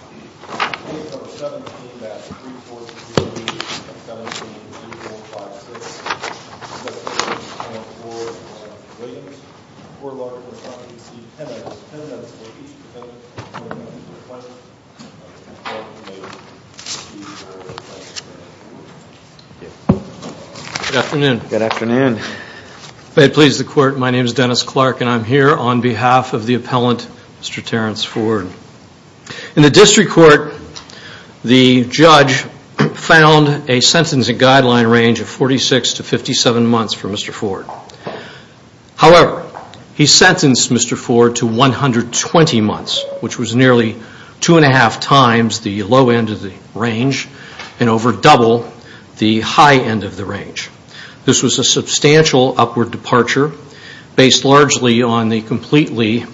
v. Dennis Clark Good afternoon. May it please the court, my name is Dennis Clark and I'm here on behalf of the appellant Mr. Terrence Ford. In the district court, the judge found a sentencing guideline range of 46 to 57 months for Mr. Ford. However, he sentenced Mr. Ford to 120 months, which was nearly two and a half times the low end of the range and over double the high end of the range. This was a substantial upward departure based largely on the completely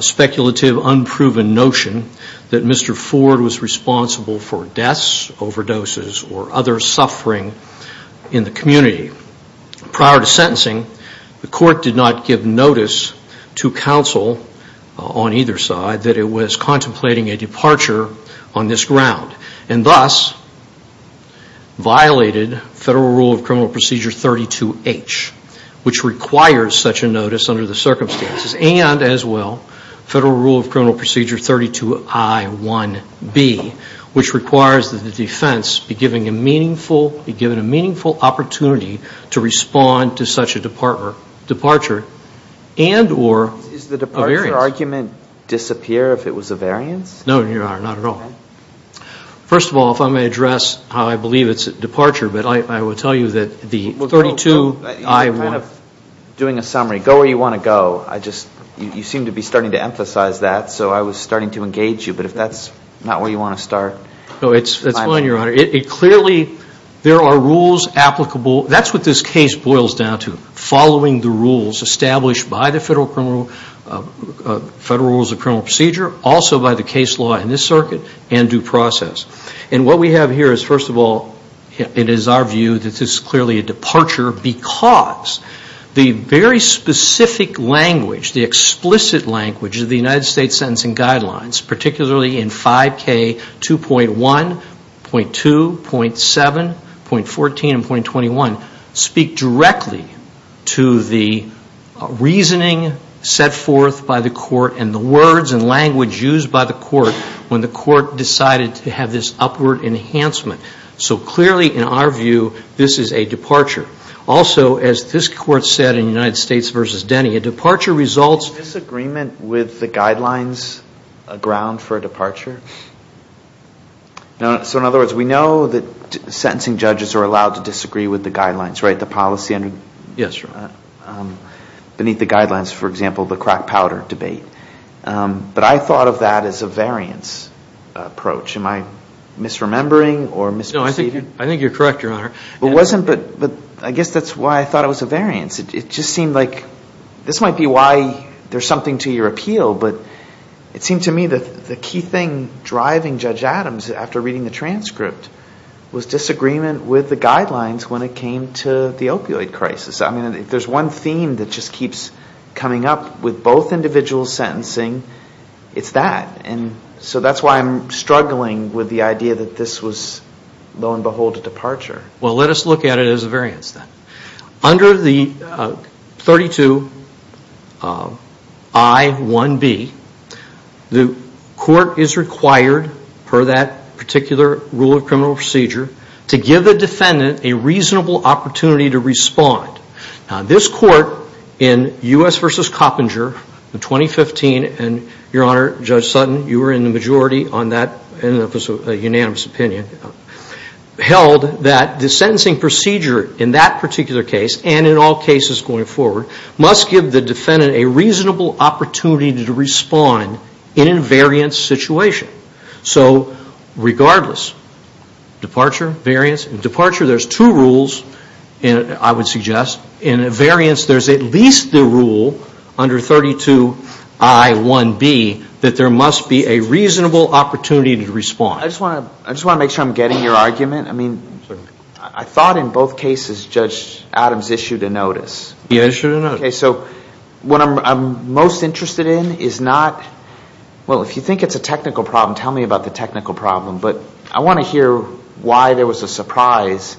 speculative unproven notion that Mr. Ford was responsible for deaths, overdoses or other suffering in the community. Prior to sentencing, the court did not give notice to counsel on either side that it was contemplating a departure on this ground and thus violated Federal Rule of Criminal Procedure 32H, which requires such a notice under the circumstances and as well Federal Rule of Criminal Procedure 32I1B, which requires that the defense be given a meaningful opportunity to respond to such a departure and or a variance. Is the departure argument disappear if it was a variance? No, Your Honor, not at all. First of all, if I may address how I believe it's a departure, but I will tell you that the 32I1. You're kind of doing a summary. Go where you want to go. You seem to be starting to emphasize that, so I was starting to engage you. But if that's not where you want to start. No, it's fine, Your Honor. Clearly, there are rules applicable. That's what this case boils down to, following the rules established by the Federal Rule of Criminal Procedure, also by the case law in this circuit and due process. And what we have here is, first of all, it is our view that this is clearly a departure because the very specific language, the explicit language of the United States Sentencing Guidelines, particularly in 5K 2.1, 5.2, 5.7, 5.14, and 5.21, speak directly to the reasoning set forth by the court and the words and language used by the court when the court decided to have this upward enhancement. So clearly, in our view, this is a departure. Also, as this court said in United States v. Denny, a departure results... So in other words, we know that sentencing judges are allowed to disagree with the guidelines, right? The policy under... Yes, Your Honor. Beneath the guidelines, for example, the crack powder debate. But I thought of that as a variance approach. Am I misremembering or misperceiving? No, I think you're correct, Your Honor. It wasn't, but I guess that's why I thought it was a variance. It just seemed like this might be why there's something to your appeal, but it seemed to me that the key thing driving Judge Adams, after reading the transcript, was disagreement with the guidelines when it came to the opioid crisis. I mean, if there's one theme that just keeps coming up with both individuals' sentencing, it's that. And so that's why I'm struggling with the idea that this was, lo and behold, a departure. Well, let us look at it as a variance, then. Under the 32I1B, the court is required, per that particular rule of criminal procedure, to give the defendant a reasonable opportunity to respond. Now, this court in U.S. v. Coppinger in 2015, and, Your Honor, Judge Sutton, you were in the majority on that, and it was a unanimous opinion, held that the sentencing procedure in that particular case, and in all cases going forward, must give the defendant a reasonable opportunity to respond in a variance situation. So, regardless, departure, variance. In departure, there's two rules, I would suggest. In a variance, there's at least the rule under 32I1B that there must be a reasonable opportunity to respond. I just want to make sure I'm getting your argument. I mean, I thought in both cases Judge Adams issued a notice. He issued a notice. Okay, so what I'm most interested in is not, well, if you think it's a technical problem, tell me about the technical problem. But I want to hear why there was a surprise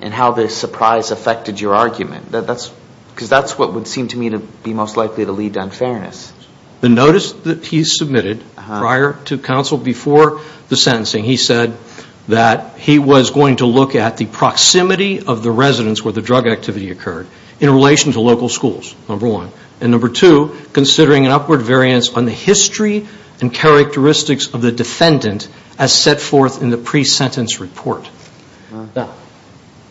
and how the surprise affected your argument. Because that's what would seem to me to be most likely to lead to unfairness. The notice that he submitted prior to counsel, before the sentencing, he said that he was going to look at the proximity of the residence where the drug activity occurred, in relation to local schools, number one. And number two, considering an upward variance on the history and characteristics of the defendant as set forth in the pre-sentence report. Now,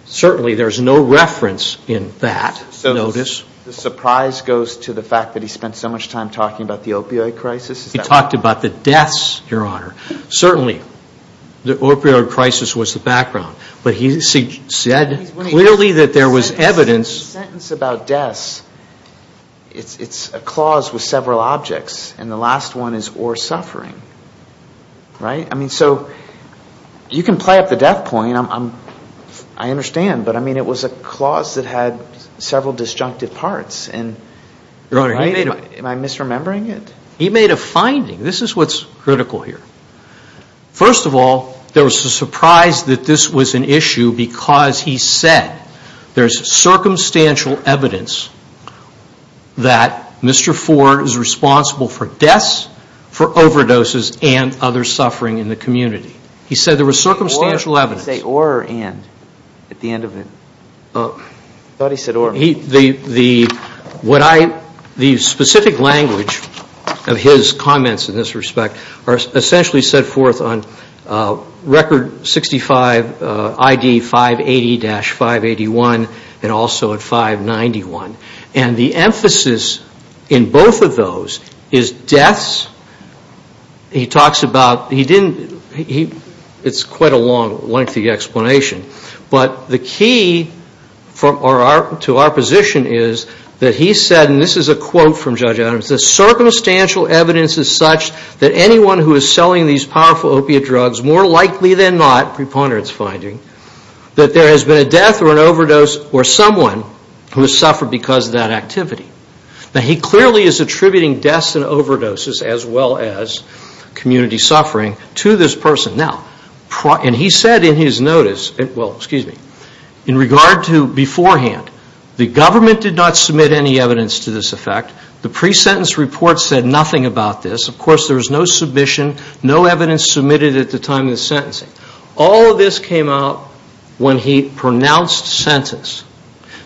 certainly there's no reference in that notice. The surprise goes to the fact that he spent so much time talking about the opioid crisis. He talked about the deaths, Your Honor. Certainly, the opioid crisis was the background. But he said clearly that there was evidence. The sentence about deaths, it's a clause with several objects. And the last one is or suffering. Right? I mean, so you can play up the death point. I understand. But, I mean, it was a clause that had several disjunctive parts. Am I misremembering it? He made a finding. This is what's critical here. First of all, there was a surprise that this was an issue because he said there's circumstantial evidence that Mr. Ford is responsible for deaths, for overdoses, and other suffering in the community. He said there was circumstantial evidence. Did he say or or and at the end of it? I thought he said or. The specific language of his comments in this respect are essentially set forth on Record 65 ID 580-581 and also at 591. And the emphasis in both of those is deaths. He talks about, he didn't, it's quite a long, lengthy explanation. But the key to our position is that he said, and this is a quote from Judge Adams, the circumstantial evidence is such that anyone who is selling these powerful opiate drugs, more likely than not, preponderance finding, that there has been a death or an overdose or someone who has suffered because of that activity. Now, he clearly is attributing deaths and overdoses as well as community suffering to this person. Now, and he said in his notice, well, excuse me, in regard to beforehand, the government did not submit any evidence to this effect. The pre-sentence report said nothing about this. Of course, there was no submission, no evidence submitted at the time of the sentencing. All of this came out when he pronounced sentence.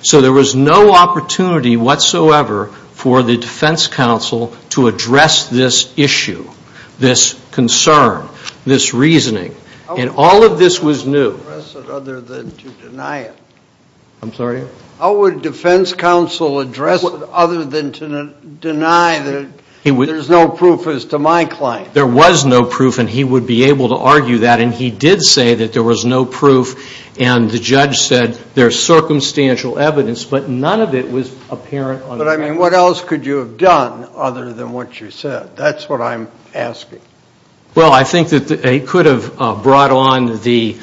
So there was no opportunity whatsoever for the defense counsel to address this issue, this concern, this reasoning. And all of this was new. How would the defense counsel address it other than to deny that there's no proof as to my client? There was no proof, and he would be able to argue that. And he did say that there was no proof, and the judge said there's circumstantial evidence, but none of it was apparent on the record. But, I mean, what else could you have done other than what you said? That's what I'm asking. Well, I think that he could have brought on the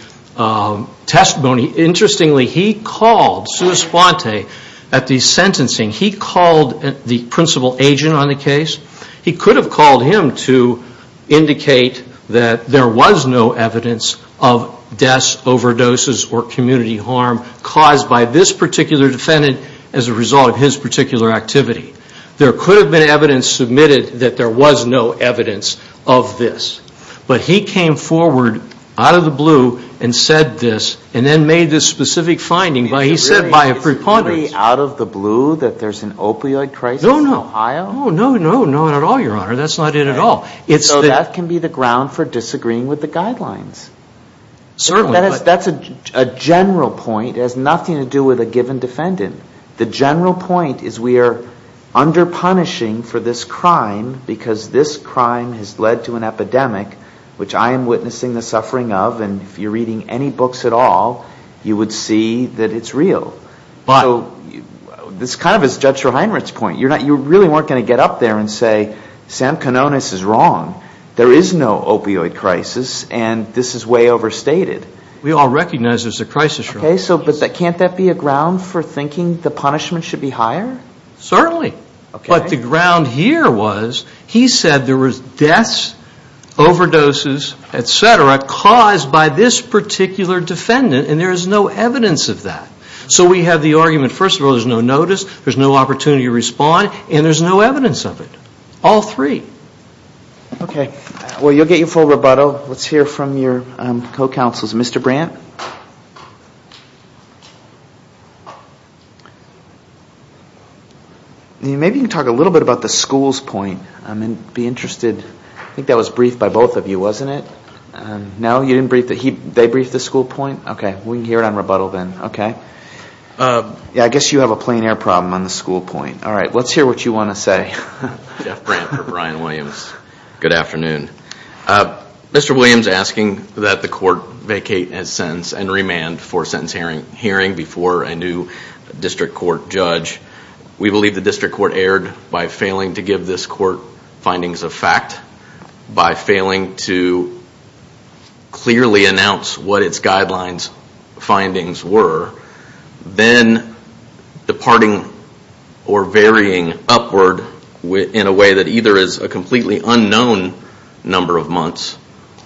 testimony. Interestingly, he called Sua Sponte at the sentencing. He called the principal agent on the case. He could have called him to indicate that there was no evidence of deaths, overdoses, or community harm caused by this particular defendant as a result of his particular activity. There could have been evidence submitted that there was no evidence of this. But he came forward out of the blue and said this, and then made this specific finding. He said by a preponderance. Out of the blue that there's an opioid crisis in Ohio? Oh, no, no, no, not at all, Your Honor. That's not it at all. So that can be the ground for disagreeing with the guidelines. Certainly. That's a general point. It has nothing to do with a given defendant. The general point is we are under punishing for this crime because this crime has led to an epidemic, which I am witnessing the suffering of, and if you're reading any books at all, you would see that it's real. So this kind of is Judge Reinhart's point. You really weren't going to get up there and say Sam Kanonis is wrong. There is no opioid crisis, and this is way overstated. We all recognize there's a crisis. Okay. But can't that be a ground for thinking the punishment should be higher? Certainly. But the ground here was he said there was deaths, overdoses, et cetera, caused by this particular defendant, and there is no evidence of that. So we have the argument, first of all, there's no notice, there's no opportunity to respond, and there's no evidence of it. All three. Okay. Well, you'll get your full rebuttal. Let's hear from your co-counsels. Mr. Brandt? Maybe you can talk a little bit about the school's point. I'd be interested. I think that was briefed by both of you, wasn't it? No, you didn't brief it? They briefed the school point? Okay. We can hear it on rebuttal then. Okay. Yeah, I guess you have a plain air problem on the school point. All right. Let's hear what you want to say. Jeff Brandt for Brian Williams. Good afternoon. Mr. Williams asking that the court vacate his sentence and remand for sentence hearing before a new district court judge. We believe the district court erred by failing to give this court findings of fact, by failing to clearly announce what its guidelines findings were, then departing or varying upward in a way that either is a completely unknown number of months,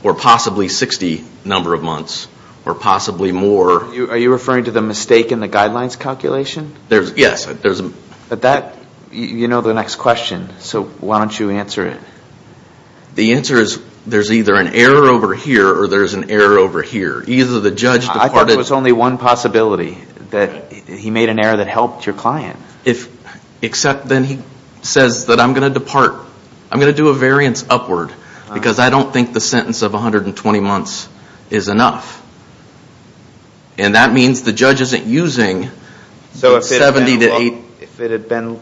or possibly 60 number of months, or possibly more. Are you referring to the mistake in the guidelines calculation? Yes. You know the next question, so why don't you answer it? The answer is there's either an error over here or there's an error over here. Either the judge departed... I thought there was only one possibility, that he made an error that helped your client. Except then he says that I'm going to depart, I'm going to do a variance upward, because I don't think the sentence of 120 months is enough. And that means the judge isn't using... So if it had been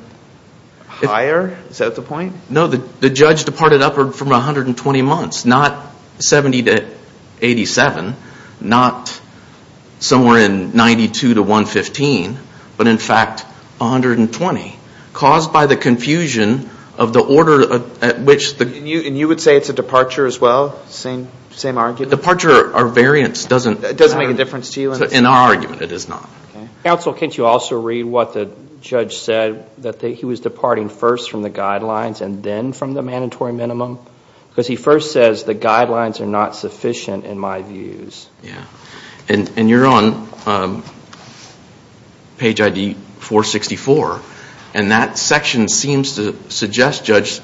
higher, is that the point? No, the judge departed upward from 120 months, not 70 to 87, not somewhere in 92 to 115, but in fact 120, caused by the confusion of the order at which... And you would say it's a departure as well, same argument? Departure or variance doesn't... Doesn't make a difference to you? In our argument, it does not. Counsel, can't you also read what the judge said, that he was departing first from the guidelines and then from the mandatory minimum? Because he first says the guidelines are not sufficient in my views. And you're on page ID 464, and that section seems to suggest, Judge,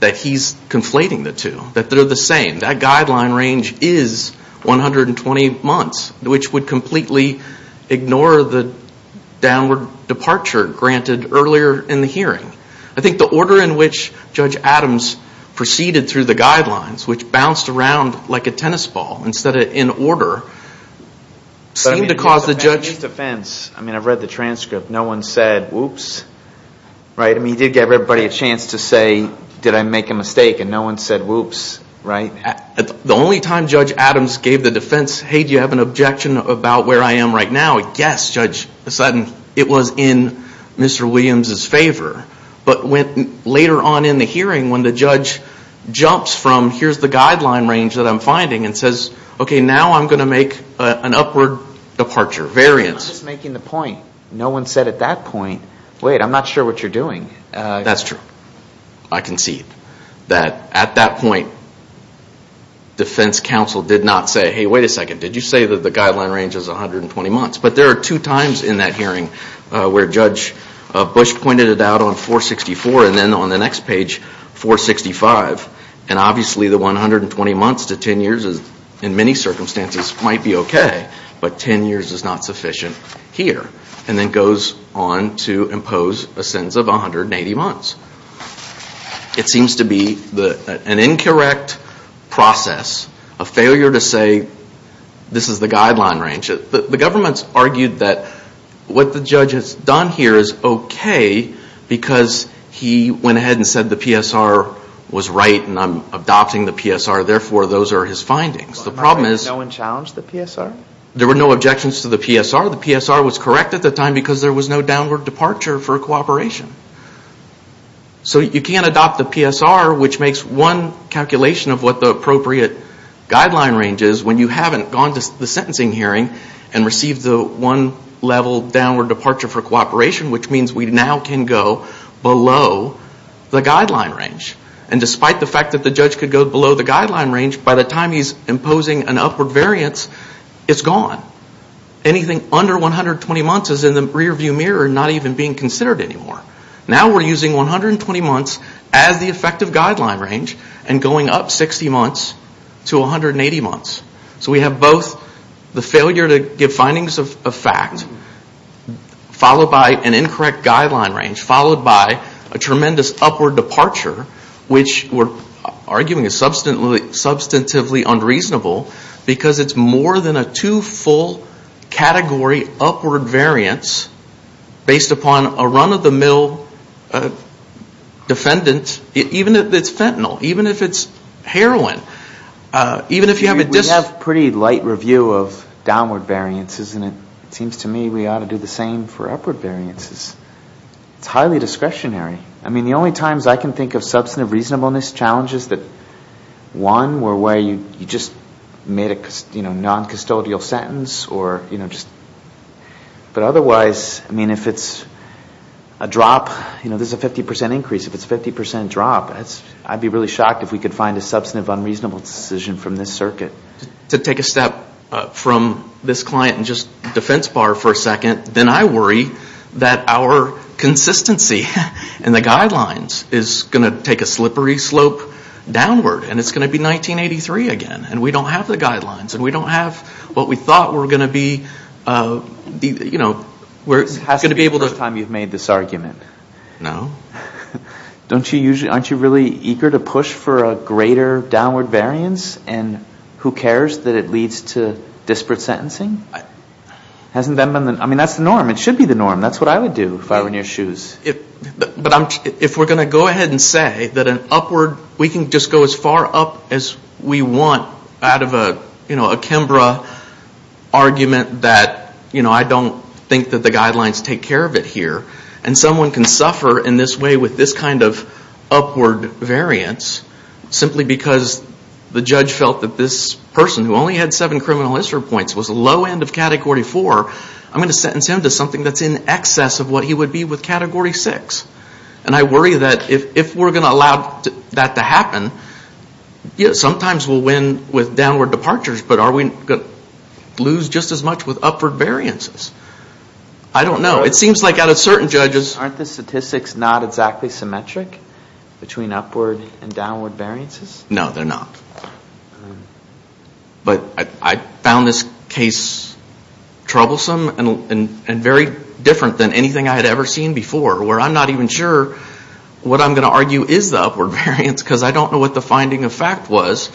that he's conflating the two, that they're the same. That guideline range is 120 months, which would completely ignore the downward departure granted earlier in the hearing. I think the order in which Judge Adams proceeded through the guidelines, which bounced around like a tennis ball, instead of in order, seemed to cause the judge... I mean, I've read the transcript. No one said, whoops, right? I mean, he did give everybody a chance to say, did I make a mistake? And no one said, whoops, right? The only time Judge Adams gave the defense, hey, do you have an objection about where I am right now? Yes, Judge, it was in Mr. Williams' favor. But later on in the hearing, when the judge jumps from, here's the guideline range that I'm finding, and says, okay, now I'm going to make an upward departure, variance. I'm just making the point. No one said at that point, wait, I'm not sure what you're doing. That's true. I concede that at that point, defense counsel did not say, hey, wait a second, did you say that the guideline range is 120 months? But there are two times in that hearing where Judge Bush pointed it out on 464, and then on the next page, 465. And obviously the 120 months to 10 years in many circumstances might be okay, but 10 years is not sufficient here. And then goes on to impose a sentence of 180 months. It seems to be an incorrect process, a failure to say this is the guideline range. The government's argued that what the judge has done here is okay because he went ahead and said the PSR was right and I'm adopting the PSR, therefore those are his findings. No one challenged the PSR? There were no objections to the PSR. The PSR was correct at the time because there was no downward departure for cooperation. So you can't adopt the PSR, which makes one calculation of what the appropriate guideline range is when you haven't gone to the sentencing hearing and received the one level downward departure for cooperation, which means we now can go below the guideline range. And despite the fact that the judge could go below the guideline range, by the time he's imposing an upward variance, it's gone. Anything under 120 months is in the rear view mirror and not even being considered anymore. Now we're using 120 months as the effective guideline range and going up 60 months to 180 months. So we have both the failure to give findings of fact, followed by an incorrect guideline range, followed by a tremendous upward departure, which we're arguing is substantively unreasonable because it's more than a two-full category upward variance based upon a run-of-the-mill defendant, even if it's fentanyl, even if it's heroin. We have a pretty light review of downward variances and it seems to me we ought to do the same for upward variances. It's highly discretionary. I mean, the only times I can think of substantive reasonableness challenges that, one, were where you just made a non-custodial sentence or, you know, just... But otherwise, I mean, if it's a drop, you know, there's a 50% increase. If it's a 50% drop, I'd be really shocked if we could find a substantive unreasonable decision from this circuit. To take a step from this client and just defense bar for a second, then I worry that our consistency in the guidelines is going to take a slippery slope downward and it's going to be 1983 again and we don't have the guidelines and we don't have what we thought were going to be, you know... It hasn't been the first time you've made this argument. No. Aren't you really eager to push for a greater downward variance and who cares that it leads to disparate sentencing? I mean, that's the norm. It should be the norm. That's what I would do if I were in your shoes. But if we're going to go ahead and say that an upward... We can just go as far up as we want out of a Kembra argument that, you know, I don't think that the guidelines take care of it here and someone can suffer in this way with this kind of upward variance simply because the judge felt that this person who only had seven criminal history points was low end of Category 4, I'm going to sentence him to something that's in excess of what he would be with Category 6. And I worry that if we're going to allow that to happen, sometimes we'll win with downward departures, but are we going to lose just as much with upward variances? I don't know. It seems like out of certain judges... Aren't the statistics not exactly symmetric between upward and downward variances? No, they're not. But I found this case troublesome and very different than anything I had ever seen before where I'm not even sure what I'm going to argue is the upward variance because I don't know what the finding of fact was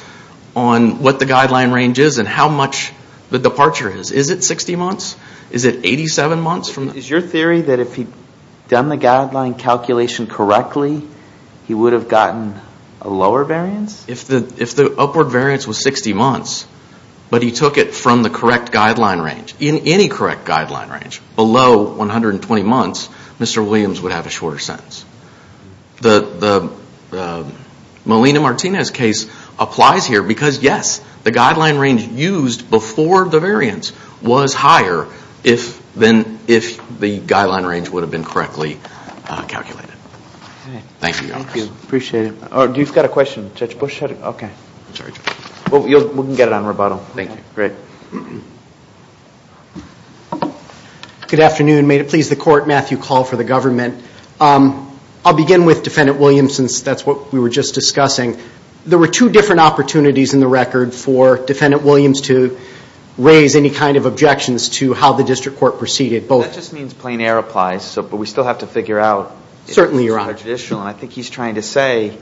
on what the guideline range is and how much the departure is. Is it 60 months? Is it 87 months? Is your theory that if he'd done the guideline calculation correctly, he would have gotten a lower variance? If the upward variance was 60 months, but he took it from the correct guideline range, in any correct guideline range below 120 months, Mr. Williams would have a shorter sentence. The Molina-Martinez case applies here because, yes, the guideline range used before the variance was higher than if the guideline range would have been correctly calculated. Thank you. Thank you. Appreciate it. You've got a question, Judge Bush? We can get it on rebuttal. Thank you. Great. Good afternoon. May it please the Court, Matthew Call for the Government. I'll begin with Defendant Williams since that's what we were just discussing. There were two different opportunities in the record for Defendant Williams to raise any kind of objections to how the district court proceeded. That just means plain air applies, but we still have to figure out. Certainly, Your Honor. I think he's trying to say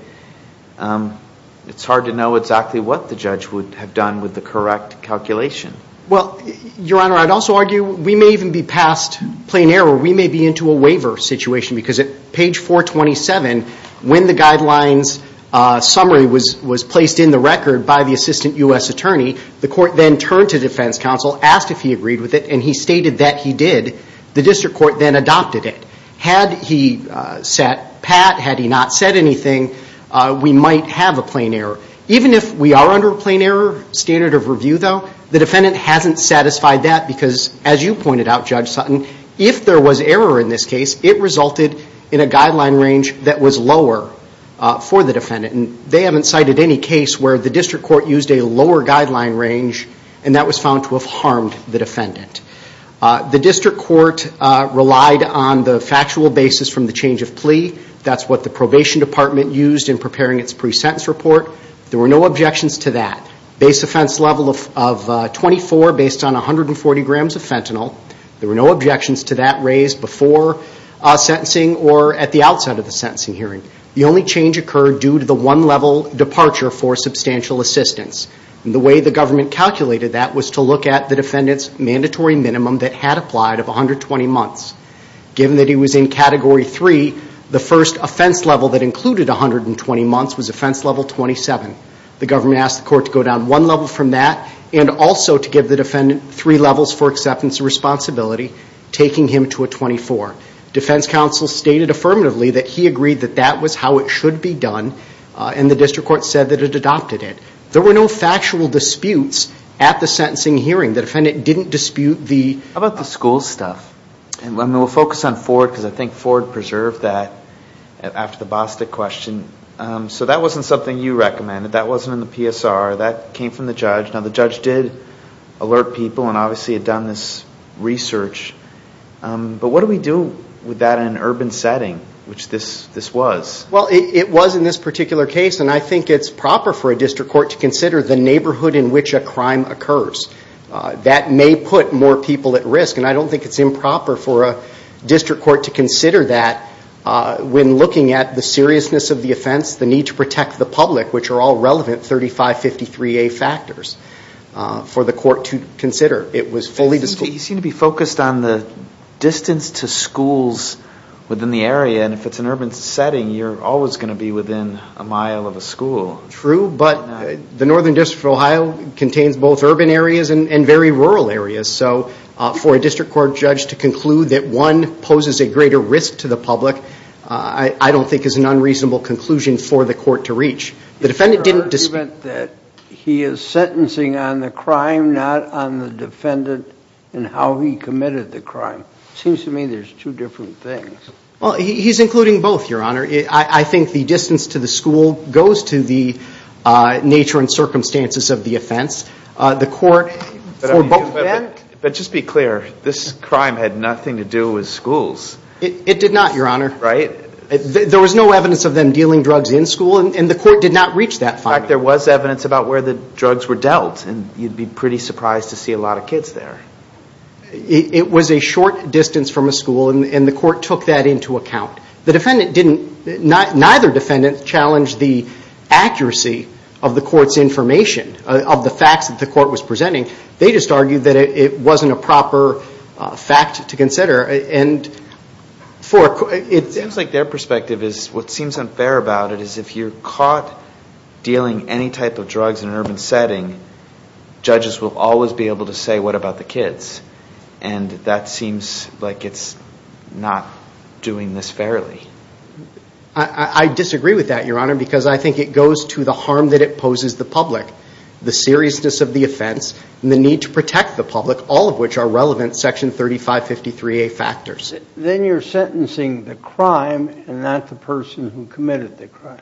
it's hard to know exactly what the judge would have done with the correct calculation. Well, Your Honor, I'd also argue we may even be past plain air or we may be into a waiver situation because at page 427, when the guidelines summary was placed in the record by the assistant U.S. attorney, the court then turned to defense counsel, asked if he agreed with it, and he stated that he did. The district court then adopted it. Had he sat pat, had he not said anything, we might have a plain air. Even if we are under a plain air standard of review, though, the defendant hasn't satisfied that because, as you pointed out, Judge Sutton, if there was error in this case, it resulted in a guideline range that was lower for the defendant. They haven't cited any case where the district court used a lower guideline range and that was found to have harmed the defendant. That's what the probation department used in preparing its pre-sentence report. There were no objections to that. Base offense level of 24 based on 140 grams of fentanyl. There were no objections to that raised before sentencing or at the outside of the sentencing hearing. The only change occurred due to the one-level departure for substantial assistance. The way the government calculated that was to look at the defendant's mandatory minimum that had applied of 120 months. Given that he was in Category 3, the first offense level that included 120 months was offense level 27. The government asked the court to go down one level from that and also to give the defendant three levels for acceptance and responsibility, taking him to a 24. Defense counsel stated affirmatively that he agreed that that was how it should be done and the district court said that it adopted it. There were no factual disputes at the sentencing hearing. The defendant didn't dispute the... We'll focus on Ford because I think Ford preserved that after the Bostic question. So that wasn't something you recommended. That wasn't in the PSR. That came from the judge. Now the judge did alert people and obviously had done this research. But what do we do with that in an urban setting, which this was? Well, it was in this particular case, and I think it's proper for a district court to consider the neighborhood in which a crime occurs. That may put more people at risk, and I don't think it's improper for a district court to consider that when looking at the seriousness of the offense, the need to protect the public, which are all relevant 3553A factors, for the court to consider. You seem to be focused on the distance to schools within the area, and if it's an urban setting, you're always going to be within a mile of a school. True, but the Northern District of Ohio contains both urban areas and very rural areas. So for a district court judge to conclude that one poses a greater risk to the public, I don't think is an unreasonable conclusion for the court to reach. Your Honor, you meant that he is sentencing on the crime, not on the defendant and how he committed the crime. It seems to me there's two different things. Well, he's including both, Your Honor. I think the distance to the school goes to the nature and circumstances of the offense. But just be clear, this crime had nothing to do with schools. It did not, Your Honor. There was no evidence of them dealing drugs in school, and the court did not reach that finding. In fact, there was evidence about where the drugs were dealt, and you'd be pretty surprised to see a lot of kids there. It was a short distance from a school, and the court took that into account. Neither defendant challenged the accuracy of the court's information, of the facts that the court was presenting. They just argued that it wasn't a proper fact to consider. It seems like their perspective is, what seems unfair about it, is if you're caught dealing any type of drugs in an urban setting, judges will always be able to say, what about the kids? And that seems like it's not doing this fairly. I disagree with that, Your Honor, because I think it goes to the harm that it poses the public, the seriousness of the offense and the need to protect the public, all of which are relevant Section 3553A factors. Then you're sentencing the crime and not the person who committed the crime.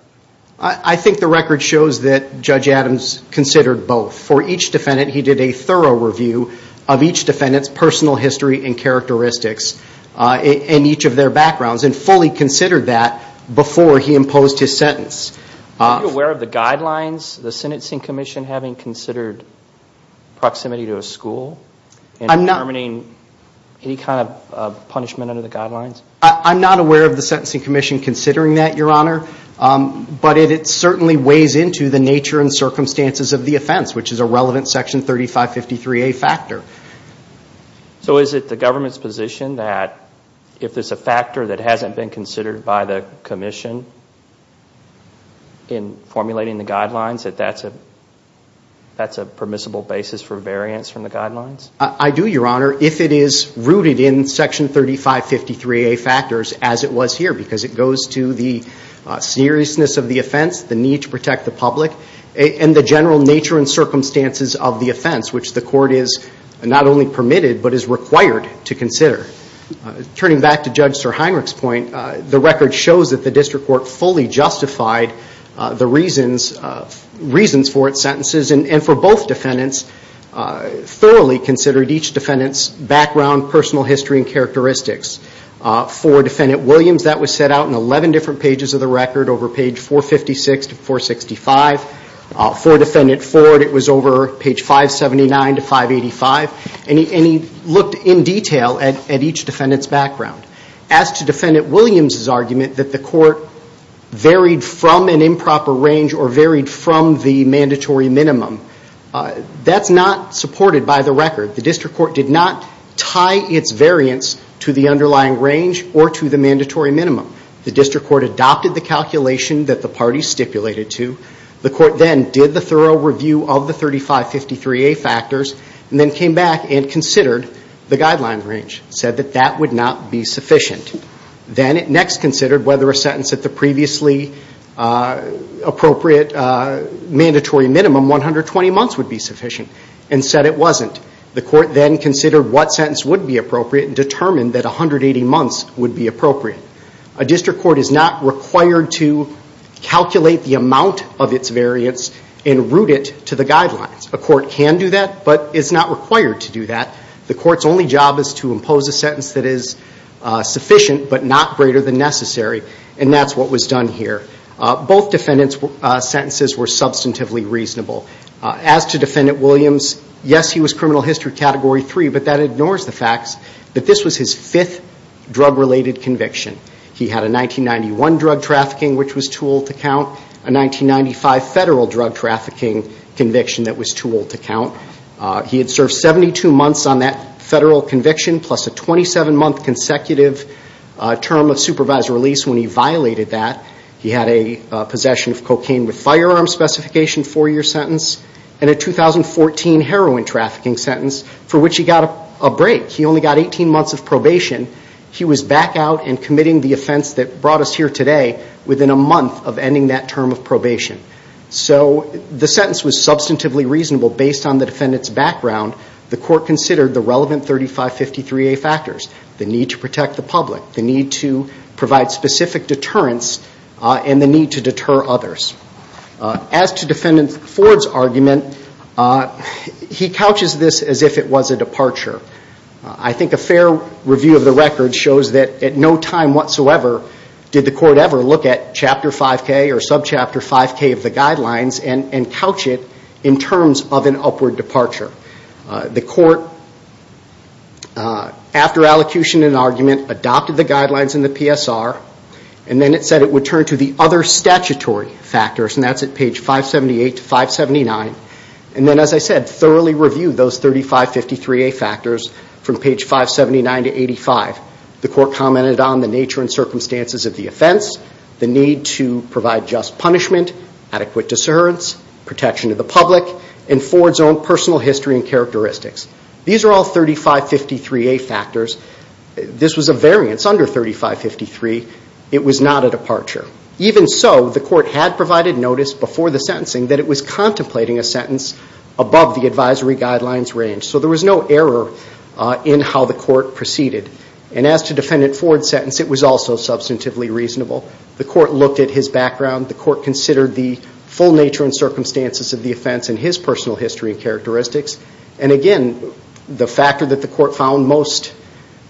I think the record shows that Judge Adams considered both. For each defendant, he did a thorough review of each defendant's personal history and characteristics and each of their backgrounds and fully considered that before he imposed his sentence. Are you aware of the guidelines, the Sentencing Commission having considered proximity to a school and determining any kind of punishment under the guidelines? I'm not aware of the Sentencing Commission considering that, Your Honor, but it certainly weighs into the nature and circumstances of the offense, which is a relevant Section 3553A factor. So is it the government's position that if there's a factor that hasn't been considered by the Commission in formulating the guidelines, that that's a permissible basis for variance from the guidelines? I do, Your Honor, if it is rooted in Section 3553A factors as it was here because it goes to the seriousness of the offense, the need to protect the public, and the general nature and circumstances of the offense, which the court is not only permitted but is required to consider. Turning back to Judge SirHeinrich's point, the record shows that the district court fully justified the reasons for its sentences and for both defendants thoroughly considered each defendant's background, personal history, and characteristics. For Defendant Williams, that was set out in 11 different pages of the record over page 456 to 465. For Defendant Ford, it was over page 579 to 585, and he looked in detail at each defendant's background. As to Defendant Williams' argument that the court varied from an improper range or varied from the mandatory minimum, that's not supported by the record. The district court did not tie its variance to the underlying range or to the mandatory minimum. The district court adopted the calculation that the parties stipulated to. The court then did the thorough review of the 3553A factors and then came back and considered the guideline range, said that that would not be sufficient. Then it next considered whether a sentence at the previously appropriate mandatory minimum, 120 months, would be sufficient and said it wasn't. The court then considered what sentence would be appropriate and determined that 180 months would be appropriate. A district court is not required to calculate the amount of its variance and route it to the guidelines. A court can do that, but is not required to do that. The court's only job is to impose a sentence that is sufficient but not greater than necessary, and that's what was done here. Both defendants' sentences were substantively reasonable. As to Defendant Williams, yes, he was criminal history category 3, but that ignores the fact that this was his fifth drug-related conviction. He had a 1991 drug trafficking, which was too old to count, a 1995 federal drug trafficking conviction that was too old to count. He had served 72 months on that federal conviction plus a 27-month consecutive term of supervised release when he violated that. He had a possession of cocaine with firearm specification four-year sentence and a 2014 heroin trafficking sentence for which he got a break. He only got 18 months of probation. He was back out and committing the offense that brought us here today within a month of ending that term of probation. So the sentence was substantively reasonable based on the defendant's background. The court considered the relevant 3553A factors, the need to protect the public, the need to provide specific deterrence, and the need to deter others. As to Defendant Ford's argument, he couches this as if it was a departure. I think a fair review of the record shows that at no time whatsoever did the court ever look at Chapter 5K or subchapter 5K of the guidelines and couch it in terms of an upward departure. The court, after allocution and argument, adopted the guidelines in the PSR, and then it said it would turn to the other statutory factors, and that's at page 578 to 579. And then, as I said, thoroughly reviewed those 3553A factors from page 579 to 85. The court commented on the nature and circumstances of the offense, the need to provide just punishment, adequate deterrence, protection of the public, and Ford's own personal history and characteristics. These are all 3553A factors. This was a variance under 3553. It was not a departure. Even so, the court had provided notice before the sentencing that it was contemplating a sentence above the advisory guidelines range. So there was no error in how the court proceeded. And as to Defendant Ford's sentence, it was also substantively reasonable. The court looked at his background. The court considered the full nature and circumstances of the offense and his personal history and characteristics. And again, the factor that the court found most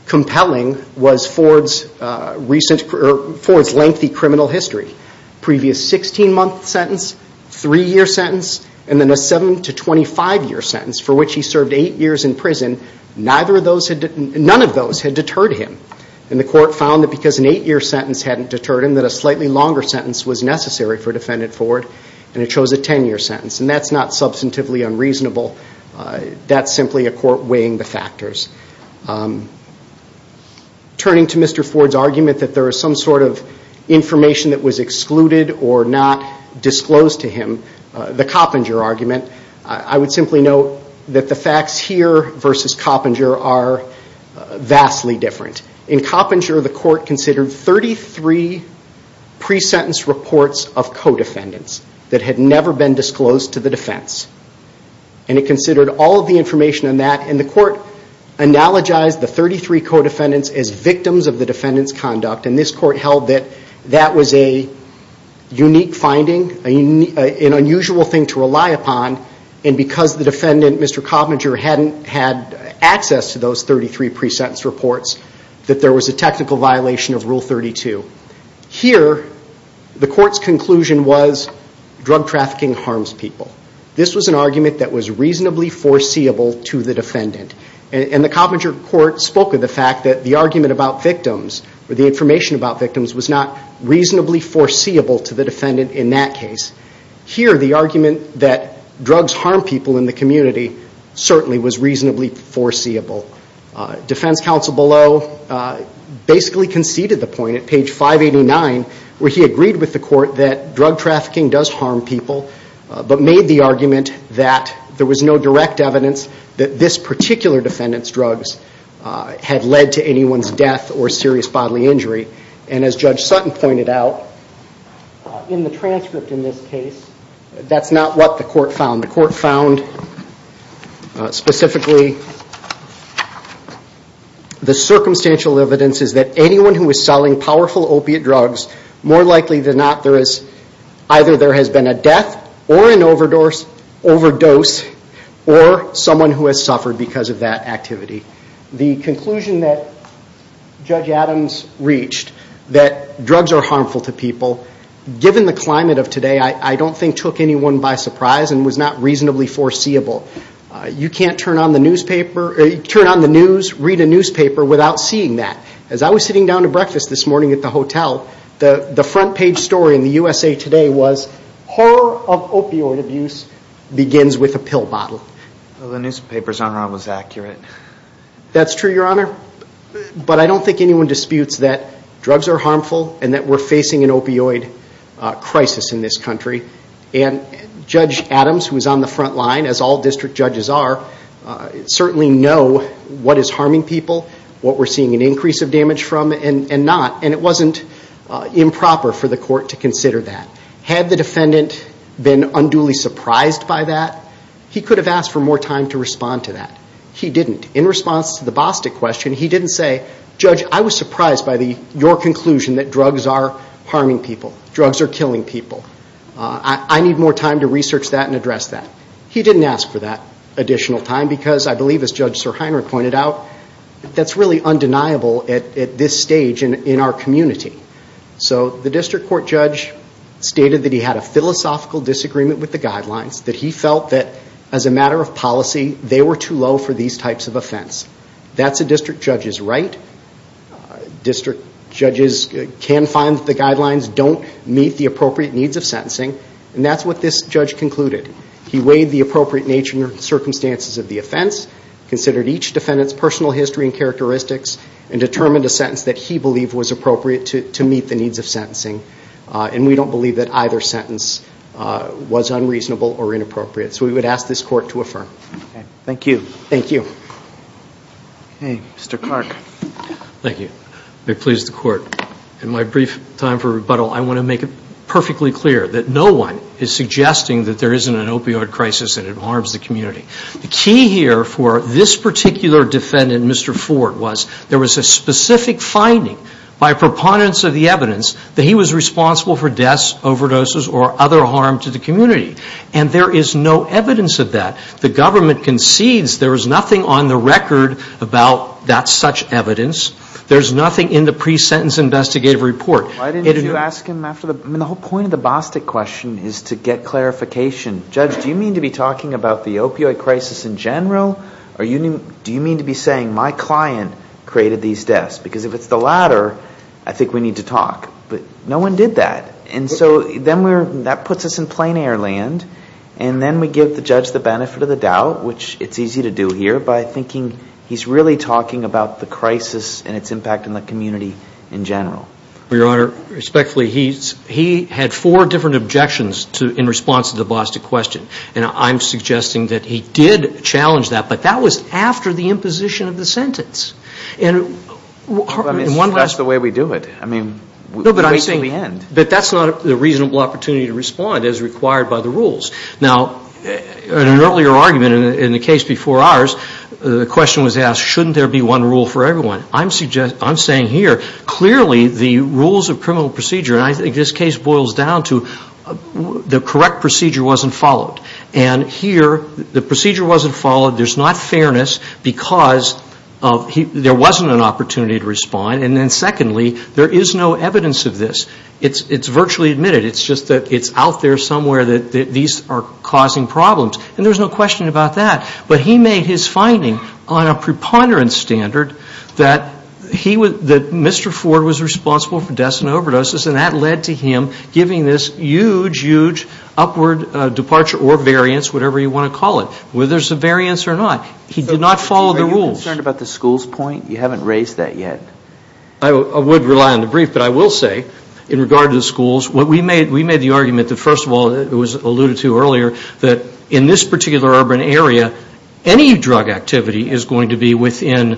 compelling was Ford's lengthy criminal history. Previous 16-month sentence, 3-year sentence, and then a 7- to 25-year sentence for which he served 8 years in prison, none of those had deterred him. And the court found that because an 8-year sentence hadn't deterred him that a slightly longer sentence was necessary for Defendant Ford, and it chose a 10-year sentence. And that's not substantively unreasonable. That's simply a court weighing the factors. Turning to Mr. Ford's argument that there was some sort of information that was excluded or not disclosed to him, the Coppinger argument, I would simply note that the facts here versus Coppinger are vastly different. In Coppinger, the court considered 33 pre-sentence reports of co-defendants that had never been disclosed to the defense. And it considered all of the information on that, and the court analogized the 33 co-defendants as victims of the defendant's conduct. And this court held that that was a unique finding, an unusual thing to rely upon, and because the defendant, Mr. Coppinger, hadn't had access to those 33 pre-sentence reports, that there was a technical violation of Rule 32. Here, the court's conclusion was drug trafficking harms people. This was an argument that was reasonably foreseeable to the defendant. And the Coppinger court spoke of the fact that the argument about victims, or the information about victims, was not reasonably foreseeable to the defendant in that case. Here, the argument that drugs harm people in the community certainly was reasonably foreseeable. Defense counsel Below basically conceded the point at page 589, where he agreed with the court that drug trafficking does harm people, but made the argument that there was no direct evidence that this particular defendant's drugs had led to anyone's death or serious bodily injury. And as Judge Sutton pointed out, in the transcript in this case, that's not what the court found. The court found, specifically, the circumstantial evidence is that anyone who is selling powerful opiate drugs, more likely than not, either there has been a death, or an overdose, or someone who has suffered because of that activity. The conclusion that Judge Adams reached, that drugs are harmful to people, given the climate of today, I don't think took anyone by surprise and was not reasonably foreseeable. You can't turn on the news, read a newspaper, without seeing that. As I was sitting down to breakfast this morning at the hotel, the front page story in the USA Today was, horror of opioid abuse begins with a pill bottle. The newspaper's enrollment was accurate. That's true, Your Honor. But I don't think anyone disputes that drugs are harmful, and that we're facing an opioid crisis in this country. Judge Adams, who is on the front line, as all district judges are, certainly know what is harming people, what we're seeing an increase of damage from, and not. It wasn't improper for the court to consider that. Had the defendant been unduly surprised by that, he could have asked for more time to respond to that. He didn't. In response to the Bostic question, he didn't say, Judge, I was surprised by your conclusion that drugs are harming people, drugs are killing people. I need more time to research that and address that. He didn't ask for that additional time, because I believe, as Judge Sirhiner pointed out, that's really undeniable at this stage in our community. So the district court judge stated that he had a philosophical disagreement with the guidelines, that he felt that, as a matter of policy, they were too low for these types of offense. That's a district judge's right. District judges can find that the guidelines don't meet the appropriate needs of sentencing, and that's what this judge concluded. He weighed the appropriate nature and circumstances of the offense, considered each defendant's personal history and characteristics, and determined a sentence that he believed was appropriate to meet the needs of sentencing. And we don't believe that either sentence was unreasonable or inappropriate. So we would ask this court to affirm. Thank you. Thank you. Okay, Mr. Clark. Thank you. May it please the court, in my brief time for rebuttal, I want to make it perfectly clear that no one is suggesting that there isn't an opioid crisis and it harms the community. The key here for this particular defendant, Mr. Ford, was there was a specific finding by proponents of the evidence that he was responsible for deaths, overdoses, or other harm to the community. And there is no evidence of that. The government concedes there was nothing on the record about that such evidence. There's nothing in the pre-sentence investigative report. Why didn't you ask him after the ñ I mean, the whole point of the Bostic question is to get clarification. Judge, do you mean to be talking about the opioid crisis in general, or do you mean to be saying my client created these deaths? Because if it's the latter, I think we need to talk. But no one did that. And so then we're ñ that puts us in plain air land. And then we give the judge the benefit of the doubt, which it's easy to do here, by thinking he's really talking about the crisis and its impact on the community in general. Well, Your Honor, respectfully, he had four different objections in response to the Bostic question. And I'm suggesting that he did challenge that, but that was after the imposition of the sentence. And in one ñ Well, I mean, that's the way we do it. I mean, we wait till the end. But that's not a reasonable opportunity to respond as required by the rules. Now, in an earlier argument in the case before ours, the question was asked, shouldn't there be one rule for everyone? I'm saying here, clearly the rules of criminal procedure ñ and I think this case boils down to the correct procedure wasn't followed. And here, the procedure wasn't followed. There's not fairness because of ñ there wasn't an opportunity to respond. And then secondly, there is no evidence of this. It's virtually admitted. It's just that it's out there somewhere that these are causing problems. And there's no question about that. But he made his finding on a preponderance standard that he was ñ that Mr. Ford was responsible for deaths and overdoses. And that led to him giving this huge, huge upward departure or variance, whatever you want to call it, whether there's a variance or not. He did not follow the rules. Are you concerned about the schools point? You haven't raised that yet. I would rely on the brief. But I will say, in regard to the schools, what we made ñ we made the argument that, first of all, it was alluded to earlier, that in this particular urban area, any drug activity is going to be within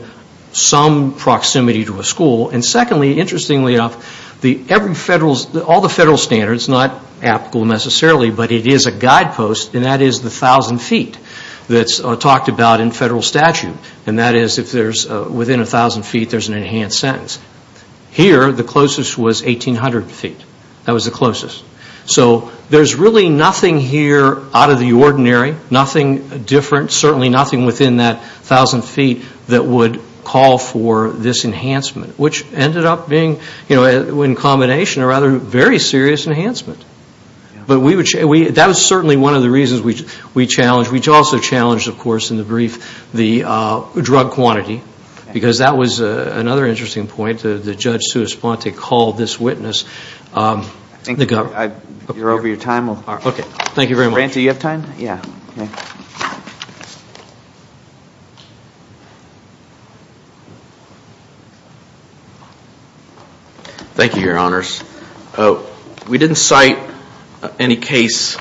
some proximity to a school. And secondly, interestingly enough, every federal ñ all the federal standards, not applicable necessarily, but it is a guidepost, and that is the 1,000 feet that's talked about in federal statute. And that is, if there's ñ within 1,000 feet, there's an enhanced sentence. Here, the closest was 1,800 feet. That was the closest. So there's really nothing here out of the ordinary, nothing different, certainly nothing within that 1,000 feet that would call for this enhancement, which ended up being, you know, in combination, a rather very serious enhancement. But we would ñ that was certainly one of the reasons we challenged. We also challenged, of course, in the brief, the drug quantity, because that was another interesting point. The judge, Sue Esponte, called this witness. Thank you. You're over your time. Okay. Thank you very much. Randy, do you have time? Yeah. Thank you, Your Honors. We didn't cite any case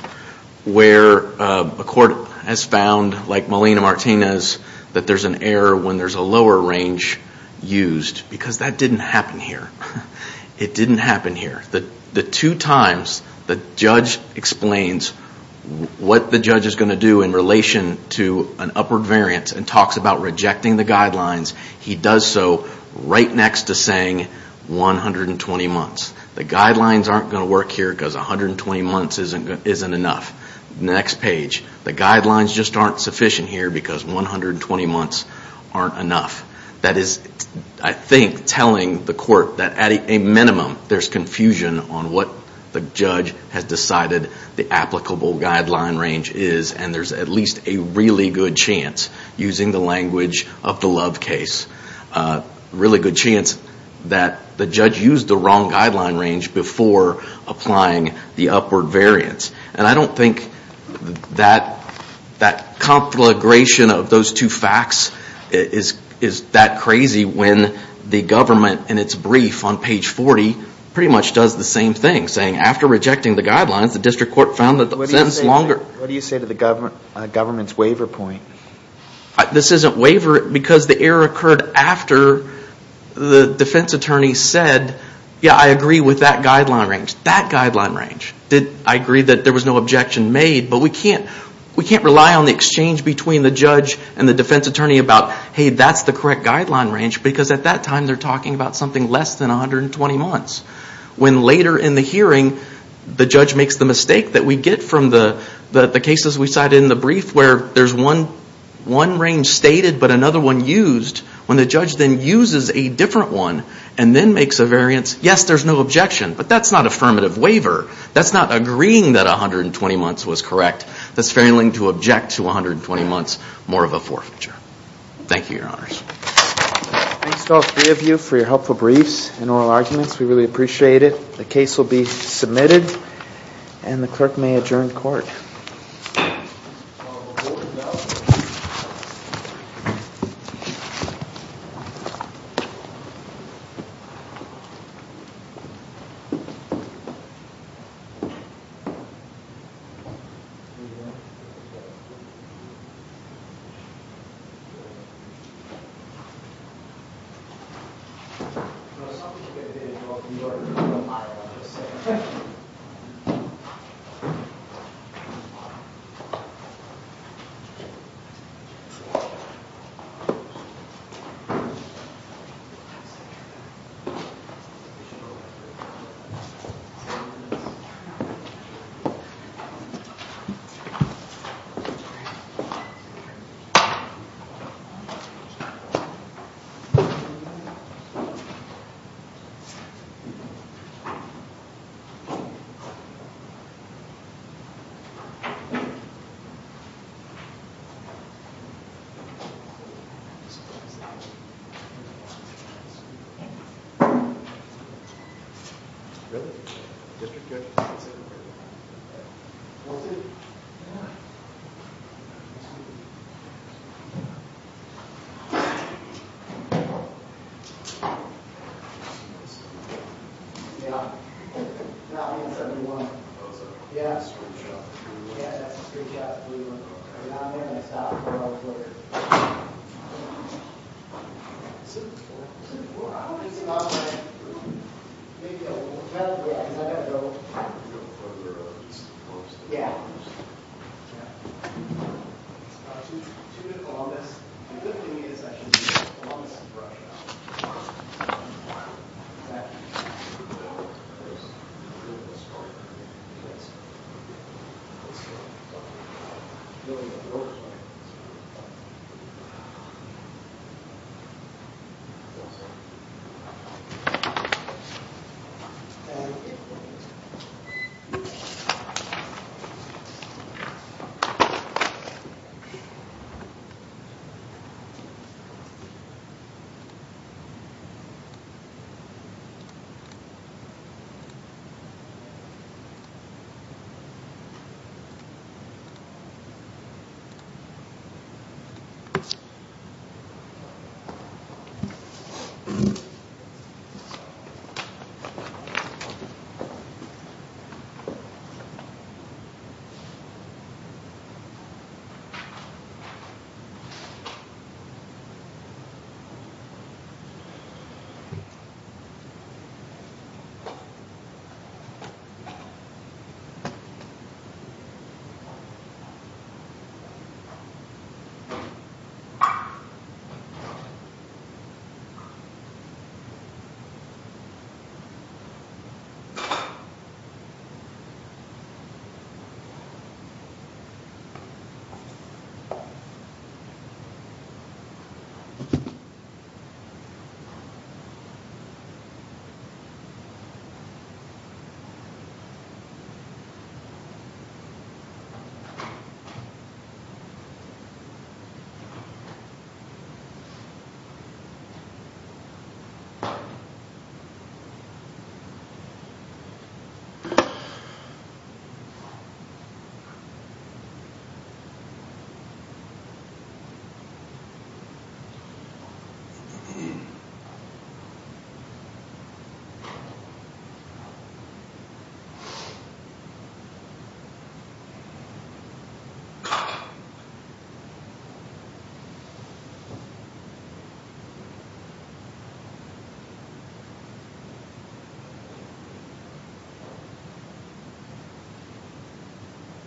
where a court has found, like Molina-Martinez, that there's an error when there's a lower range used, because that didn't happen here. It didn't happen here. The two times the judge explains what the judge is going to do in relation to an upward variance and talks about rejecting the guidelines, he does so right next to saying 120 months. The guidelines aren't going to work here because 120 months isn't enough. Next page. The guidelines just aren't sufficient here because 120 months aren't enough. That is, I think, telling the court that at a minimum, there's confusion on what the judge has decided the applicable guideline range is, and there's at least a really good chance, using the language of the Love case, a really good chance that the judge used the wrong guideline range before applying the upward variance. And I don't think that conflagration of those two facts is that crazy when the government, in its brief on page 40, pretty much does the same thing, saying after rejecting the guidelines, the district court found that the sentence longer. What do you say to the government's waiver point? This isn't waiver because the error occurred after the defense attorney said, yeah, I agree with that guideline range. That guideline range. I agree that there was no objection made, but we can't rely on the exchange between the judge and the defense attorney about, hey, that's the correct guideline range because at that time they're talking about something less than 120 months. When later in the hearing, the judge makes the mistake that we get from the cases we cited in the brief where there's one range stated but another one used, when the judge then uses a different one and then makes a variance, yes, there's no objection, but that's not affirmative waiver. That's not agreeing that 120 months was correct. That's failing to object to 120 months more of a forfeiture. Thank you, Your Honors. Thanks to all three of you for your helpful briefs and oral arguments. We really appreciate it. The case will be submitted, and the clerk may adjourn court. Thank you. Thank you. Thank you. Thank you. Thank you. Thank you. Thank you.